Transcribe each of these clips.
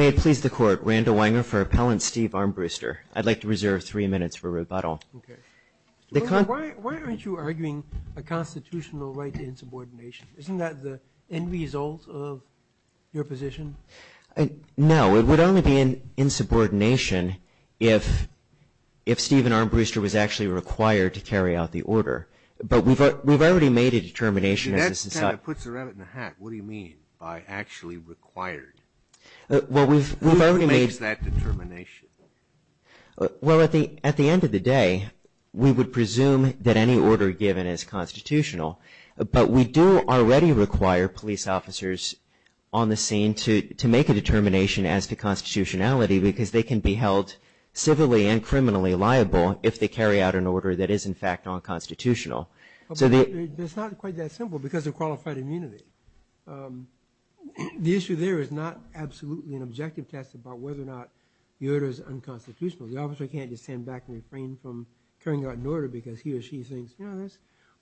May it please the Court. Randall Wanger for Appellant Steve Armbruster. I'd like to reserve three minutes for rebuttal. Why aren't you arguing a constitutional right to insubordination? Isn't that the end result of your position? No, it would only be an insubordination if if Steve and Armbruster was actually required to carry out the order. But we've we've already made a determination. That kind of puts a rabbit in a hat. What do you mean by actually required? Well, we've already made that determination. Well, at the at the end of the day, we would presume that any order given is constitutional. But we do already require police officers on the scene to to make a determination as to constitutionality, because they can be held civilly and criminally liable if they carry out an order that is, in fact, non-constitutional. So it's not quite that simple because of qualified immunity. The issue there is not absolutely an objective test about whether or not the order is unconstitutional. The officer can't just stand back and refrain from carrying out an order because he or she thinks, you know, there's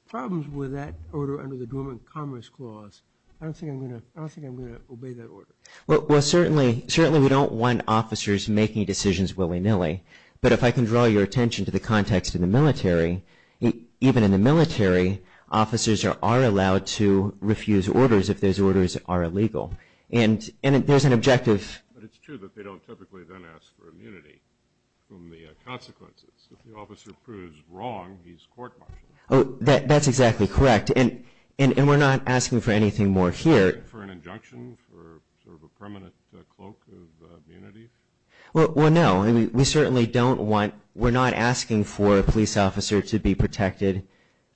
problems with that order under the Dormant Commerce Clause. I don't think I'm going to I don't think I'm going to obey that order. Well, certainly certainly we don't want officers making decisions willy nilly. But if I can draw your attention to the context of the military, even in the military, officers are allowed to refuse orders if those orders are illegal. And there's an objective. But it's true that they don't typically then ask for immunity from the consequences. If the officer proves wrong, he's court-martialed. Oh, that's exactly correct. And we're not asking for anything more here. For an injunction for sort of a permanent cloak of immunity? Well, no, we certainly don't want. We're not asking for a police officer to be protected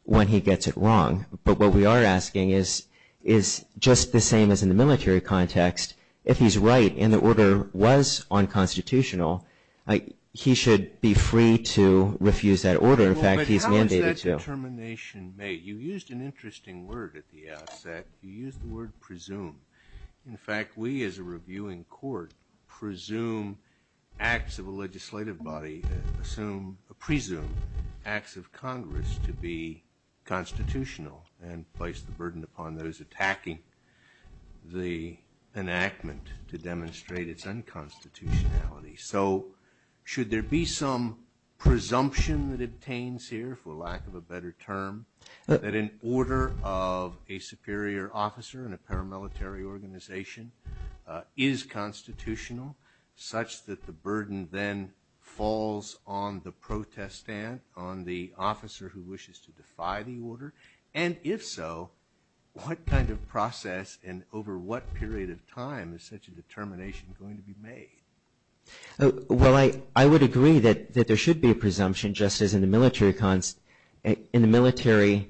when he gets it wrong. But what we are asking is, is just the same as in the military context, if he's right and the order was unconstitutional, he should be free to refuse that order. In fact, he's mandated to. But how is that determination made? You used an interesting word at the outset. You used the word presume. In fact, we, as a reviewing court, presume acts of a legislative body, presume acts of Congress to be constitutional and place the burden upon those attacking the enactment to demonstrate its unconstitutionality. So should there be some presumption that obtains here, for lack of a better term, that an order of a superior officer in a paramilitary organization is constitutional, such that the burden then falls on the protestant, on the officer who wishes to defy the order? And if so, what kind of process and over what period of time is such a determination going to be made? Well, I would agree that there should be a presumption, just as in the military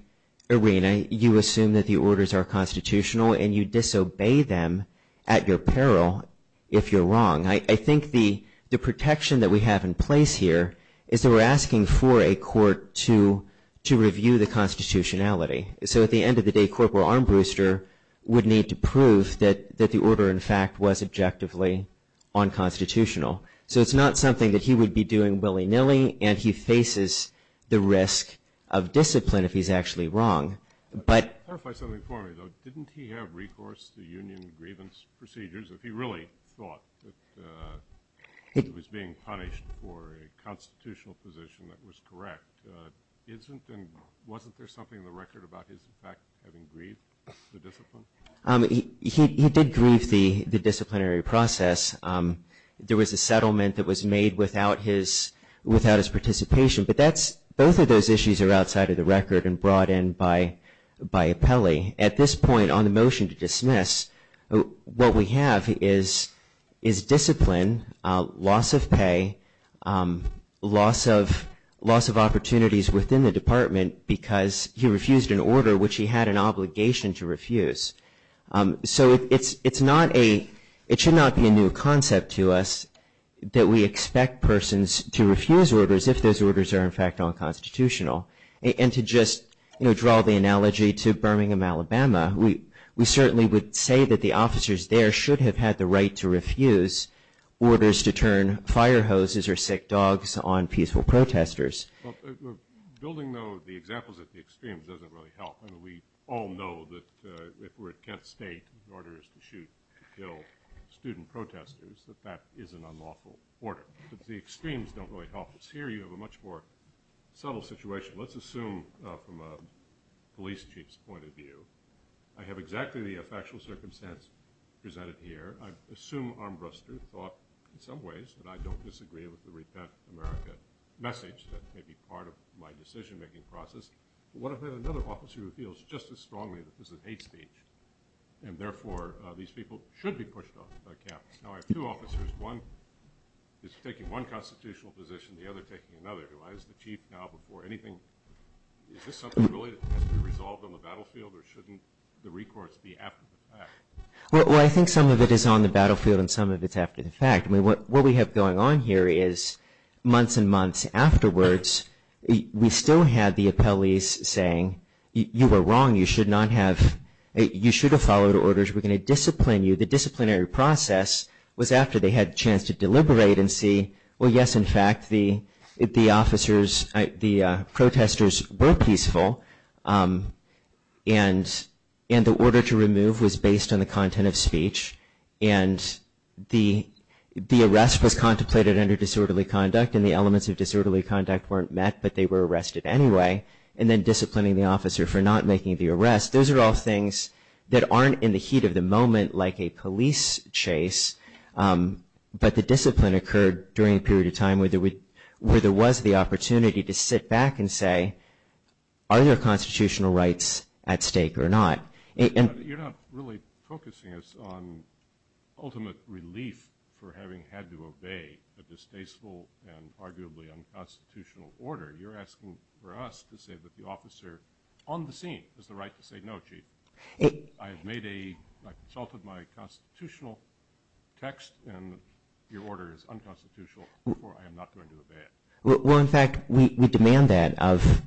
arena, you assume that the orders are constitutional and you disobey them at your peril if you're wrong. I think the protection that we have in place here is that we're asking for a court to review the constitutionality. So at the end of the day, Corporal Armbruster would need to prove that the order, in fact, was objectively unconstitutional. So it's not something that he would be doing willy nilly and he faces the risk of discipline if he's actually wrong. But- Clarify something for me, though. Didn't he have recourse to union grievance procedures if he really thought that he was being punished for a constitutional position that was correct? Isn't and wasn't there something in the record about his, in fact, having grieved the discipline? He did grieve the disciplinary process. There was a settlement that was made without his participation. But both of those issues are outside of the record and brought in by Appelli. At this point, on the motion to dismiss, what we have is discipline, loss of pay, loss of opportunities within the department because he refused an order which he had an obligation to refuse. So it should not be a new concept to us that we expect persons to refuse orders if those orders are, in fact, unconstitutional. And to just draw the analogy to Birmingham, Alabama, we certainly would say that the officers there should have had the right to refuse orders to turn fire hoses or sick dogs on peaceful protesters. Building, though, the examples at the extremes doesn't really help. We all know that if we're at Kent State, the order is to shoot to kill student protesters, that that is an unlawful order. But the extremes don't really help us. Here, you have a much more subtle situation, let's assume from a police chief's point of view. I have exactly the effectual circumstance presented here. I assume Armbruster thought in some ways that I don't disagree with the Repent America message that may be part of my decision-making process. But what if I had another officer who feels just as strongly that this is hate speech, and therefore, these people should be pushed off the campus? Now, I have two officers. One is taking one constitutional position, the other taking another. Do I, as the chief, now, before anything, is this something really that has to be resolved on the battlefield, or shouldn't the recourse be after the fact? Well, I think some of it is on the battlefield, and some of it's after the fact. I mean, what we have going on here is months and months afterwards, we still had the appellees saying, you were wrong. You should not have, you should have followed orders. We're going to discipline you. The disciplinary process was after they had a chance to deliberate and see, well, yes, in fact, the officers, the protesters were peaceful, and the order to remove was based on the content of speech. And the arrest was contemplated under disorderly conduct, and the elements of disorderly conduct weren't met, but they were arrested anyway. And then disciplining the officer for not making the arrest. Those are all things that aren't in the heat of the moment, like a police chase, but the discipline occurred during a period of time where there was the opportunity to sit back and say, are there constitutional rights at stake or not? And. You're not really focusing us on ultimate relief for having had to obey a distasteful and arguably unconstitutional order. You're asking for us to say that the officer on the scene has the right to say no, Chief. I have made a, I consulted my constitutional text, and your order is unconstitutional, or I am not going to obey it. Well, in fact, we demand that of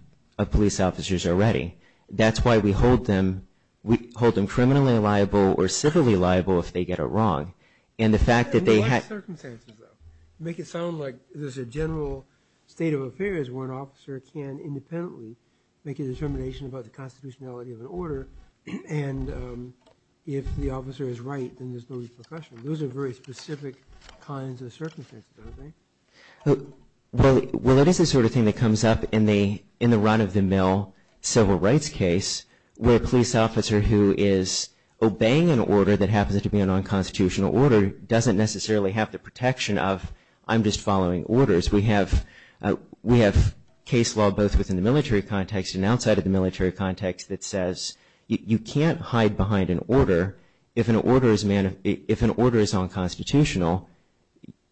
police officers already. That's why we hold them, we hold them criminally liable or civilly liable if they get it wrong. And the fact that they had. What circumstances, though, make it sound like there's a general state of affairs where an officer can independently make a determination about the constitutionality of an order, and if the officer is right, then there's no repercussion? Those are very specific kinds of circumstances, aren't they? Well, that is the sort of thing that comes up in the run of the mill, civil rights case, where a police officer who is obeying an order that happens to be an unconstitutional order doesn't necessarily have the protection of I'm just following orders. We have case law both within the military context and outside of the military context that says you can't hide behind an order. If an order is unconstitutional,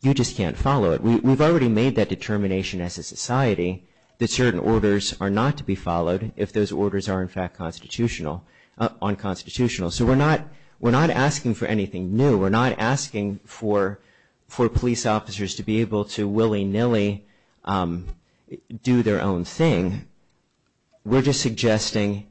you just can't follow it. We've already made that determination as a society that certain orders are not to be followed if those orders are, in fact, unconstitutional. So we're not asking for anything new. We're not asking for police officers to be able to willy-nilly do their own thing. We're just suggesting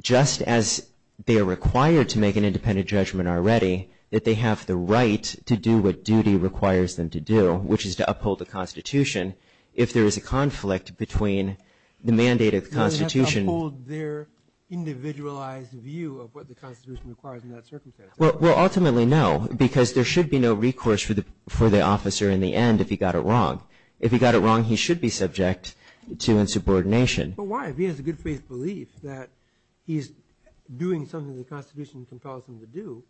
just as they are required to make an independent judgment already that they have the right to do what duty requires them to do, which is to uphold the constitution. If there is a conflict between the mandate of the constitution. To uphold their individualized view of what the constitution requires in that circumstance. Well, ultimately, no, because there should be no recourse for the officer in the end if he got it wrong. If he got it wrong, he should be subject to insubordination. But why? If he has a good faith belief that he's doing something the constitution compels him to do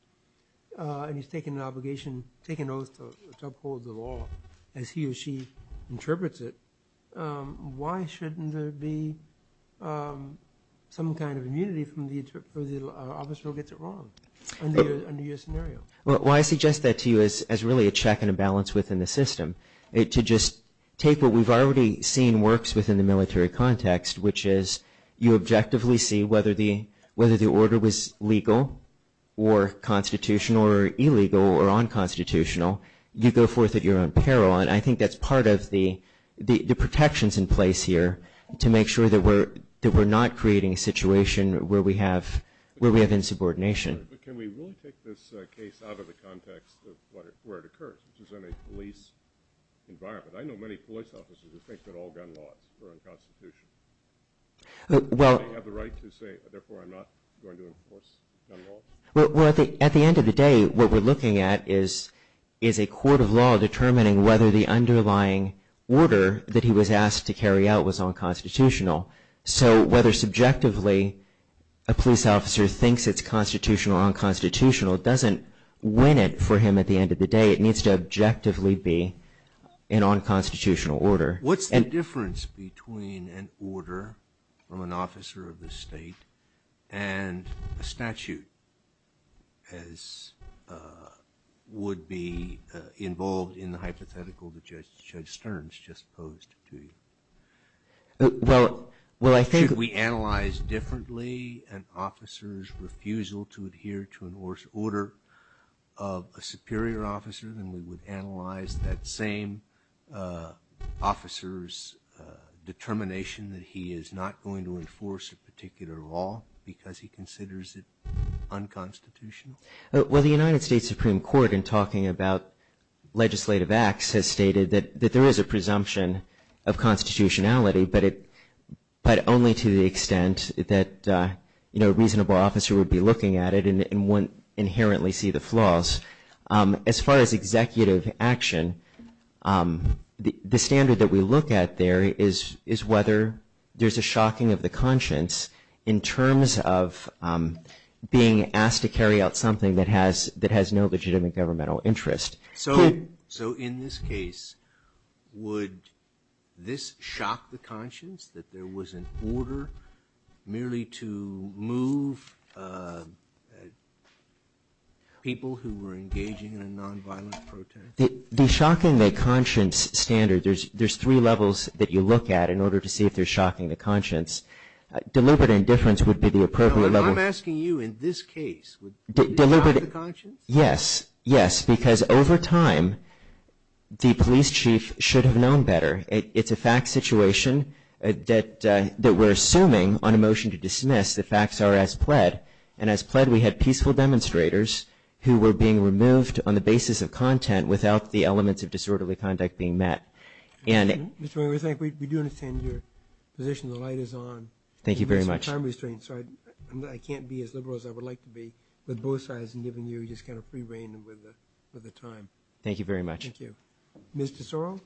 and he's taking an obligation, taking an oath to uphold the law as he or she interprets it, why shouldn't there be some kind of immunity for the officer who gets it wrong under your scenario? Well, I suggest that to you as really a check and a balance within the system. To just take what we've already seen works within the military context, which is you objectively see whether the order was legal or constitutional or illegal or unconstitutional. You go forth at your own peril. And I think that's part of the protections in place here to make sure that we're not creating a situation where we have insubordination. But can we really take this case out of the context of where it occurs, which is in a police environment? I know many police officers who think that all gun laws are unconstitutional. Do they have the right to say, therefore, I'm not going to enforce gun laws? Well, at the end of the day, what we're looking at is a court of law determining whether the underlying order that he was asked to carry out was unconstitutional. So whether subjectively a police officer thinks it's constitutional or unconstitutional doesn't win it for him at the end of the day. It needs to objectively be an unconstitutional order. What's the difference between an order from an officer of the state and a statute as would be involved in the hypothetical that Judge Stearns just posed to you? Well, I think- Should we analyze differently an officer's refusal to adhere to an order of a superior officer than we would analyze that same officer's determination that he is not going to enforce a particular law because he considers it unconstitutional? Well, the United States Supreme Court, in talking about legislative acts, has stated that there is a presumption of constitutionality, but only to the extent that a reasonable officer would be looking at it and wouldn't inherently see the flaws. As far as executive action, the standard that we look at there is whether there's a shocking of the conscience in terms of being asked to carry out something that has no legitimate governmental interest. So in this case, would this shock the conscience that there was an order merely to move people who were engaging in a nonviolent protest? The shocking the conscience standard, there's three levels that you look at in order to see if they're shocking the conscience. Deliberate indifference would be the appropriate level. I'm asking you in this case, would it shock the conscience? Yes, yes, because over time, the police chief should have known better. It's a fact situation that we're assuming on a motion to dismiss. The facts are as pled. And as pled, we had peaceful demonstrators who were being removed on the basis of content without the elements of disorderly conduct being met. And we do understand your position. The light is on. Thank you very much. I'm restrained, so I can't be as liberal as I would like to be with both sides and giving you just kind of free reign with the time. Thank you very much. Thank you. Ms. Tesoro?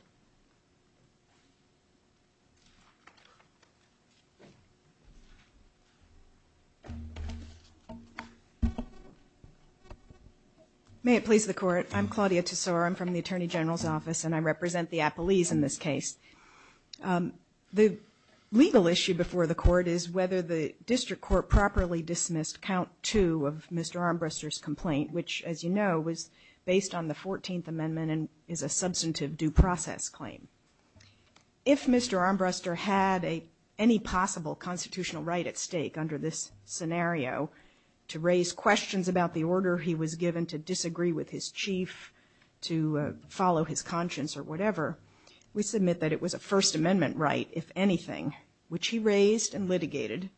May it please the Court. I'm Claudia Tesoro. I'm from the Attorney General's office, and I represent the appellees in this case. The legal issue before the Court is whether the district court properly dismissed count two of Mr. Armbruster's complaint, which, as you know, was based on the 14th amendment and is a substantive due process claim. If Mr. Armbruster had any possible constitutional right at stake under this scenario to raise questions about the order he was given to disagree with his chief to follow his conscience or whatever, we submit that it was a First Amendment right, if anything, which he raised and litigated.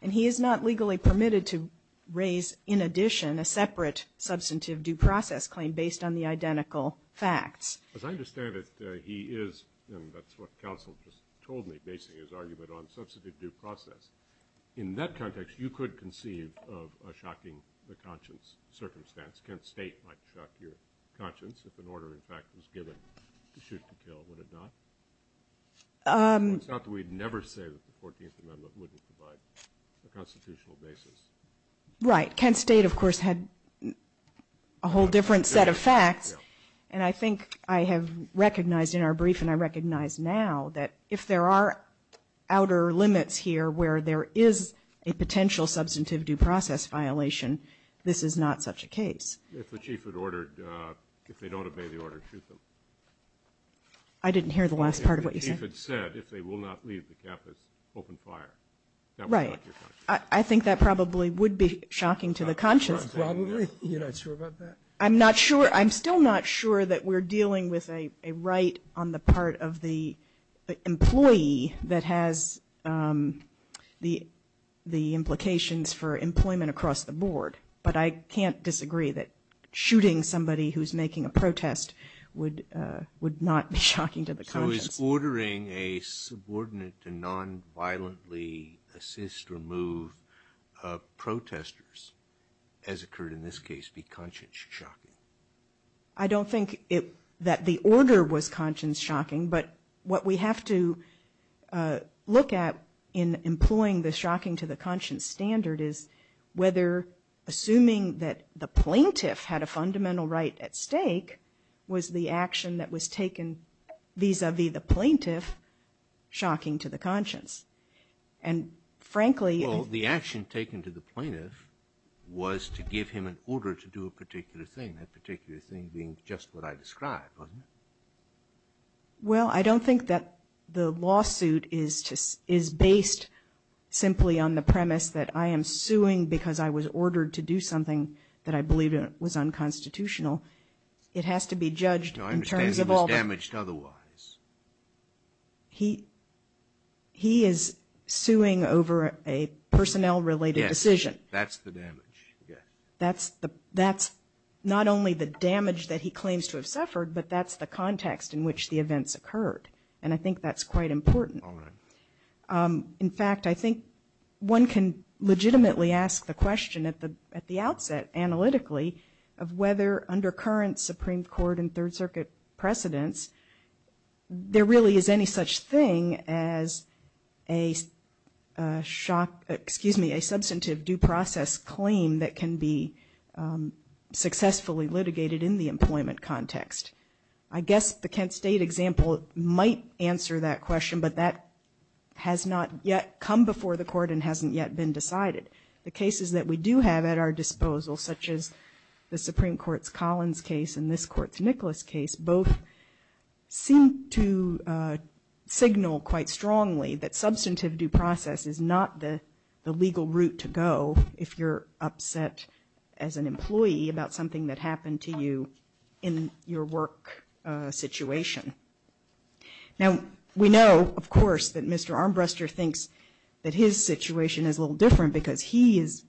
And he is not legally permitted to raise, in addition, a separate substantive due process claim based on the identical facts. As I understand it, he is, and that's what counsel just told me, basing his argument on substantive due process. In that context, you could conceive of a shocking the conscience circumstance. Kent State might shock your conscience if an order, in fact, was given to shoot to kill. Would it not? It's not that we'd never say that the 14th Amendment wouldn't provide a constitutional basis. Right. Kent State, of course, had a whole different set of facts. And I think I have recognized in our brief, and I recognize now, that if there are outer limits here where there is a potential substantive due process violation, this is not such a case. If the chief had ordered, if they don't obey the order to shoot them. I didn't hear the last part of what you said. If it's said, if they will not leave the campus open fire, that would shock your conscience. Right. I think that probably would be shocking to the conscience. Probably? You're not sure about that? I'm not sure. I'm still not sure that we're dealing with a right on the part of the employee that has the implications for employment across the board. But I can't disagree that shooting somebody who's making a protest would not be shocking to the conscience. So is ordering a subordinate to non-violently assist or move protesters, as occurred in this case, be conscience-shocking? I don't think that the order was conscience-shocking. But what we have to look at in employing the shocking to the conscience standard is whether assuming that the plaintiff had a fundamental right at stake was the action that was taken vis-a-vis the plaintiff shocking to the conscience. And frankly... Well, the action taken to the plaintiff was to give him an order to do a particular thing, that particular thing being just what I described, wasn't it? Well, I don't think that the lawsuit is based simply on the premise that I am suing because I was ordered to do something that I believed was unconstitutional. It has to be judged in terms of all... Judged otherwise. He is suing over a personnel-related decision. Yes, that's the damage, yes. That's not only the damage that he claims to have suffered, but that's the context in which the events occurred. And I think that's quite important. All right. In fact, I think one can legitimately ask the question at the outset, analytically, of whether under current Supreme Court and Third Circuit precedents, there really is any such thing as a shock... Excuse me, a substantive due process claim that can be successfully litigated in the employment context. I guess the Kent State example might answer that question, but that has not yet come before the court and hasn't yet been decided. The cases that we do have at our disposal, such as the Supreme Court's Collins case and this Court's Nicholas case, both seem to signal quite strongly that substantive due process is not the legal route to go if you're upset as an employee about something that happened to you in your work situation. Now, we know, of course, that Mr. Armbruster thinks that his situation is a little different because he is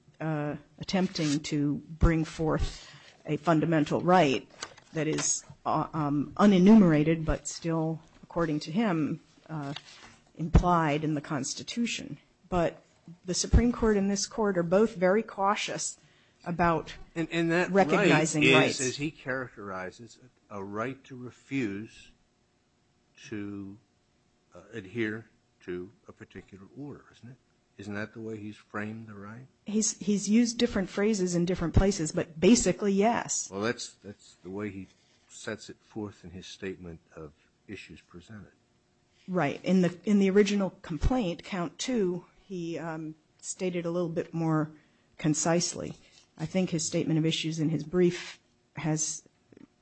attempting to bring forth a fundamental right that is unenumerated, but still, according to him, implied in the Constitution. But the Supreme Court and this Court are both very cautious about recognizing rights. And that right is, as he characterizes it, a right to refuse to adhere to a particular order, isn't it? He's framed the right? He's used different phrases in different places, but basically, yes. Well, that's the way he sets it forth in his statement of issues presented. Right. In the original complaint, count two, he stated a little bit more concisely. I think his statement of issues in his brief has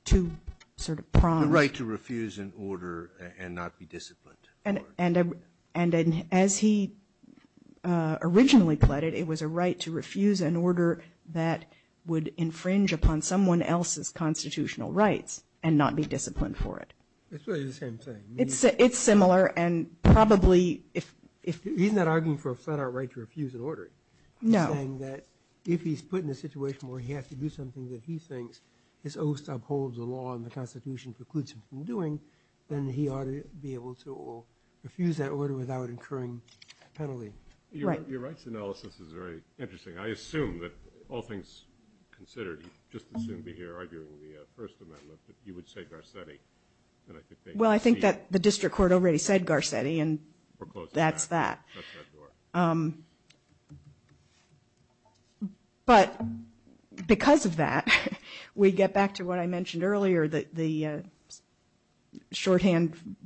two sort of prongs. The right to refuse an order and not be disciplined. And as he originally claimed it, it was a right to refuse an order that would infringe upon someone else's constitutional rights and not be disciplined for it. It's really the same thing. It's similar and probably if... He's not arguing for a flat-out right to refuse an order. No. He's saying that if he's put in a situation where he has to do something that he thinks his oath upholds the law and the Constitution precludes him from doing, then he ought to be able to refuse that order without incurring a penalty. Right. Your rights analysis is very interesting. I assume that all things considered, just assume that you're arguing the First Amendment, that you would say Garcetti. Well, I think that the district court already said Garcetti and that's that. But because of that, we get back to what I mentioned earlier that the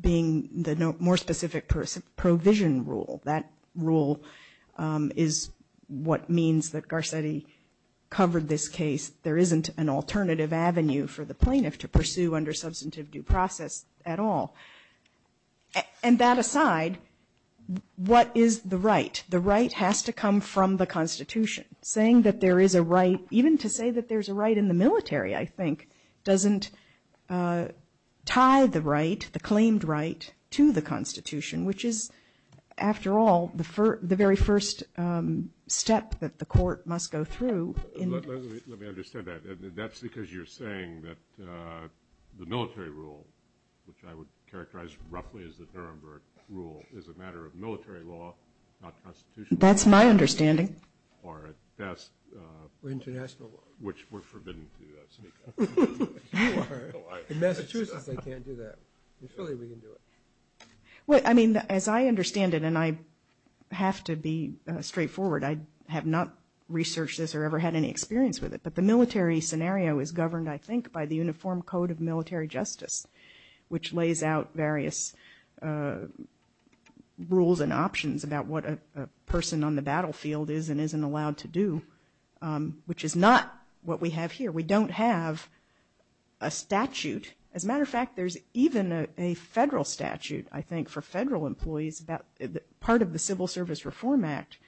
being the more specific provision rule. That rule is what means that Garcetti covered this case. There isn't an alternative avenue for the plaintiff to pursue under substantive due process at all. And that aside, what is the right? The right has to come from the Constitution. Saying that there is a right, even to say that there's a right in the military, I think, doesn't tie the right, the claimed right, to the Constitution, which is, after all, the very first step that the court must go through. Let me understand that. That's because you're saying that the military rule, which I would characterize roughly as the Nuremberg rule, is a matter of military law, not Constitutional law. That's my understanding. Or at best. International law. Which we're forbidden to speak of. You are. In Massachusetts, they can't do that. In Philly, we can do it. Well, I mean, as I understand it, and I have to be straightforward. I have not researched this or ever had any experience with it. But the military scenario is governed, I think, by the Uniform Code of Military Justice, which lays out various rules and options about what a person on the battlefield is and isn't allowed to do, which is not what we have here. We don't have a statute. As a matter of fact, there's even a federal statute, I think, for federal employees. Part of the Civil Service Reform Act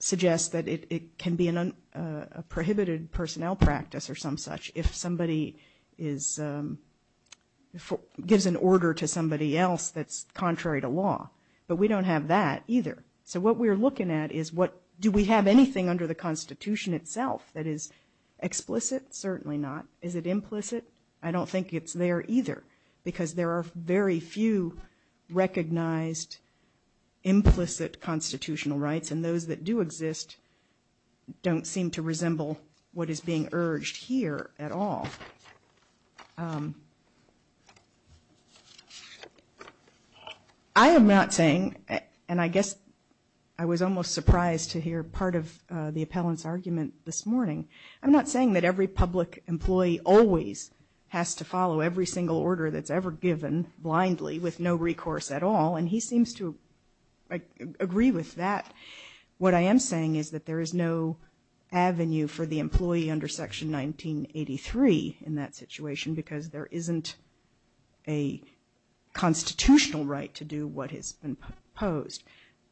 suggests that it can be a prohibited personnel practice or some such if somebody gives an order to somebody else that's contrary to law. But we don't have that either. So what we're looking at is, do we have anything under the Constitution itself that is explicit? Certainly not. Is it implicit? I don't think it's there either, because there are very few recognized implicit constitutional rights. And those that do exist don't seem to resemble what is being urged here at all. I am not saying, and I guess I was almost surprised to hear part of the appellant's warning. I'm not saying that every public employee always has to follow every single order that's ever given blindly with no recourse at all. And he seems to agree with that. What I am saying is that there is no avenue for the employee under Section 1983 in that situation, because there isn't a constitutional right to do what has been proposed.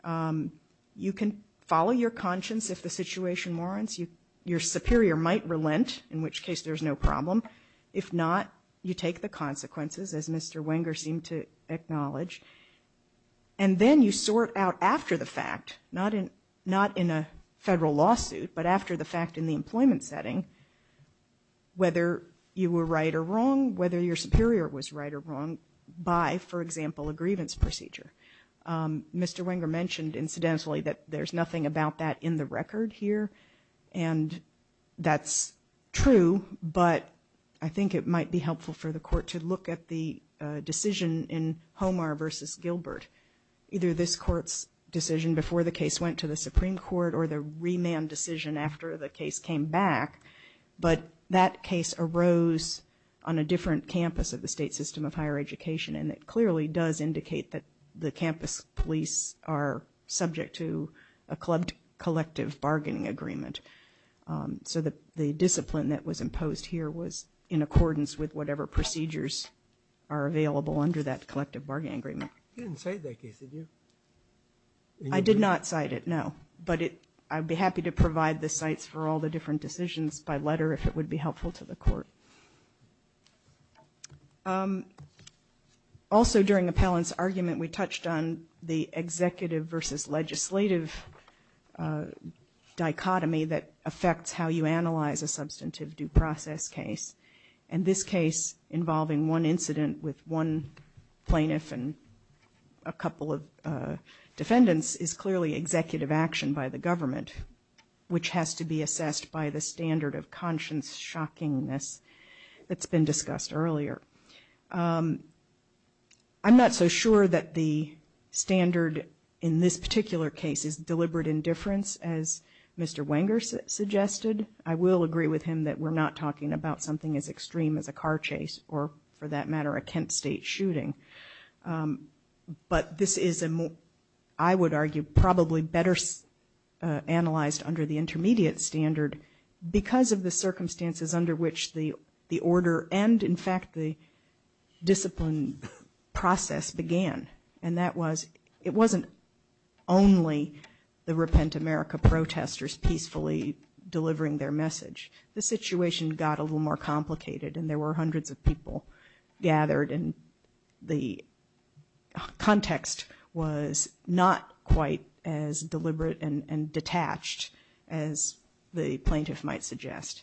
You can follow your conscience if the situation warrants. Your superior might relent, in which case there's no problem. If not, you take the consequences, as Mr. Wenger seemed to acknowledge. And then you sort out after the fact, not in a federal lawsuit, but after the fact in the employment setting, whether you were right or wrong, whether your superior was right or wrong by, for example, a grievance procedure. Mr. Wenger mentioned, incidentally, that there's nothing about that in the record here. And that's true, but I think it might be helpful for the Court to look at the decision in Homar v. Gilbert, either this Court's decision before the case went to the Supreme Court or the remand decision after the case came back. But that case arose on a different campus of the state system of higher education, and it clearly does indicate that the campus police are subject to a clubbed collective bargaining agreement. So the discipline that was imposed here was in accordance with whatever procedures are available under that collective bargaining agreement. You didn't cite that case, did you? I did not cite it, no. But I'd be happy to provide the sites for all the different decisions by letter if it would be helpful to the Court. Also during Appellant's argument, we touched on the executive versus legislative dichotomy that affects how you analyze a substantive due process case. And this case involving one incident with one plaintiff and a couple of defendants is clearly executive action by the government, which has to be assessed by the standard of conscience shockingness that's been discussed earlier. I'm not so sure that the standard in this particular case is deliberate indifference as Mr. Wenger suggested. I will agree with him that we're not talking about something as extreme as a car chase or, for that matter, a Kent State shooting. But this is, I would argue, probably better analyzed under the intermediate standard because of the circumstances under which the order and, in fact, the discipline process began. And that was it wasn't only the Repent America protesters peacefully delivering their message. The situation got a little more complicated and there were hundreds of people gathered and the context was not quite as deliberate and detached as the plaintiff might suggest.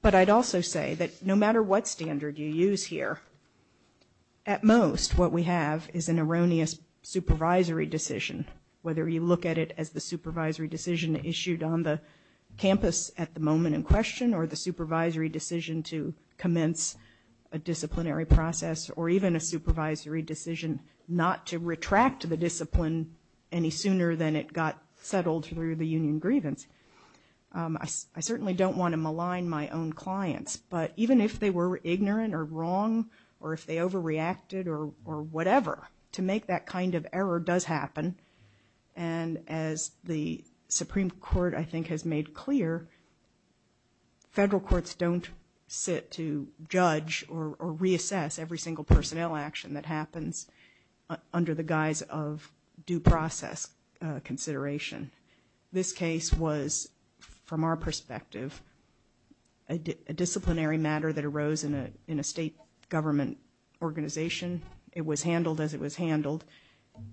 But I'd also say that no matter what standard you use here, at most what we have is an erroneous supervisory decision, whether you look at it as the supervisory decision issued on the campus at the moment in question or the supervisory decision to process or even a supervisory decision not to retract the discipline any sooner than it got settled through the union grievance. I certainly don't want to malign my own clients, but even if they were ignorant or wrong or if they overreacted or whatever, to make that kind of error does happen. And as the Supreme Court, I think, has made clear, federal courts don't sit to judge or reassess every single personnel action that happens under the guise of due process consideration. This case was, from our perspective, a disciplinary matter that arose in a state government organization. It was handled as it was handled.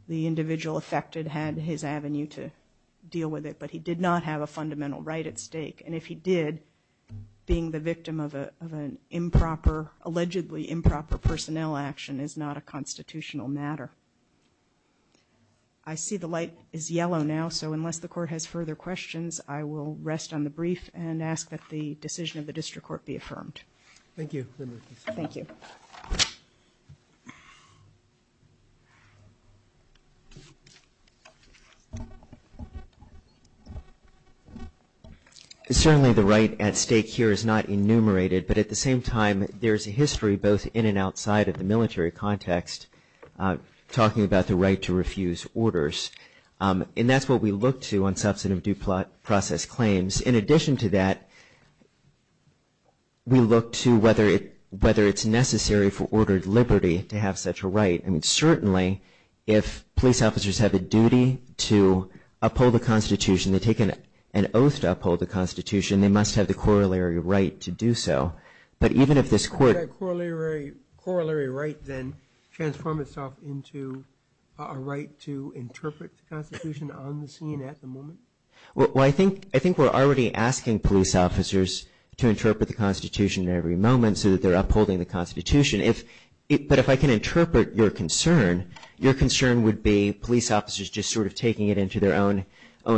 The individual affected had his avenue to deal with it, but he did not have a fundamental right at stake. And if he did, being the victim of an improper, allegedly improper, personnel action is not a constitutional matter. I see the light is yellow now, so unless the Court has further questions, I will rest on the brief and ask that the decision of the District Court be affirmed. Thank you. Thank you. Certainly, the right at stake here is not enumerated. But at the same time, there is a history, both in and outside of the military context, talking about the right to refuse orders. And that's what we look to on substantive due process claims. In addition to that, we look to whether it's necessary for ordered liberty to have such a right. And certainly, if police officers have a duty to uphold the Constitution, they take an oath to uphold the Constitution, they must have the corollary right to do so. But even if this Court- Does that corollary right then transform itself into a right to interpret the Constitution on the scene at the moment? Well, I think we're already asking police officers to interpret the Constitution every moment so that they're upholding the Constitution. But if I can interpret your concern, your concern would be police officers just sort of taking it into their own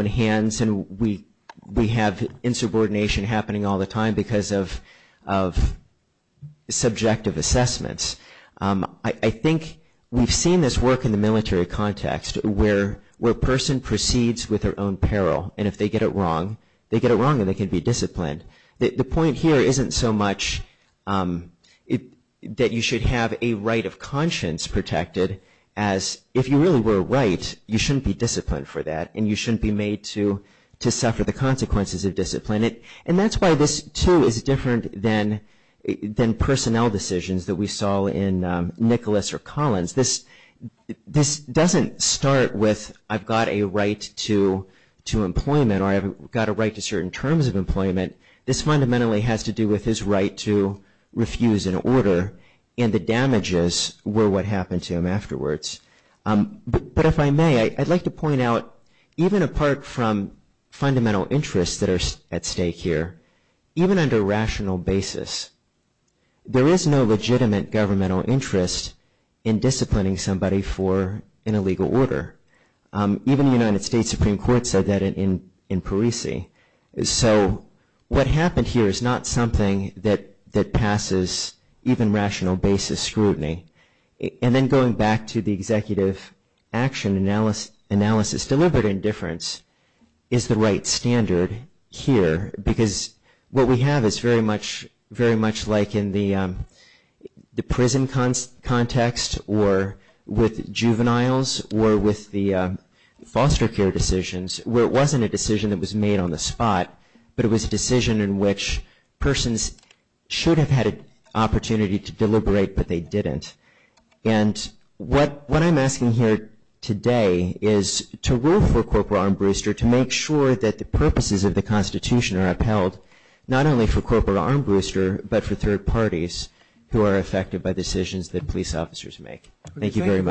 hands. And we have insubordination happening all the time because of subjective assessments. I think we've seen this work in the military context, where a person proceeds with their own peril. And if they get it wrong, they get it wrong and they can be disciplined. The point here isn't so much that you should have a right of conscience protected as if you really were right, you shouldn't be disciplined for that. And you shouldn't be made to suffer the consequences of discipline. And that's why this, too, is different than personnel decisions that we saw in Nicholas or Collins. This doesn't start with, I've got a right to employment or I've got a right to certain terms of employment. This fundamentally has to do with his right to refuse an order and the damages were what happened to him afterwards. But if I may, I'd like to point out, even apart from fundamental interests that are at stake here, even under rational basis, there is no legitimate governmental interest in disciplining somebody for an illegal order. Even the United States Supreme Court said that in Parisi. So what happened here is not something that passes even rational basis scrutiny. And then going back to the executive action analysis, deliberate indifference is the right or with juveniles or with the foster care decisions, where it wasn't a decision that was made on the spot, but it was a decision in which persons should have had an opportunity to deliberate, but they didn't. And what I'm asking here today is to rule for Corporal Armbruster to make sure that the purposes of the Constitution are upheld, not only for Corporal Armbruster, but for all the decisions that officers make. Thank you very much.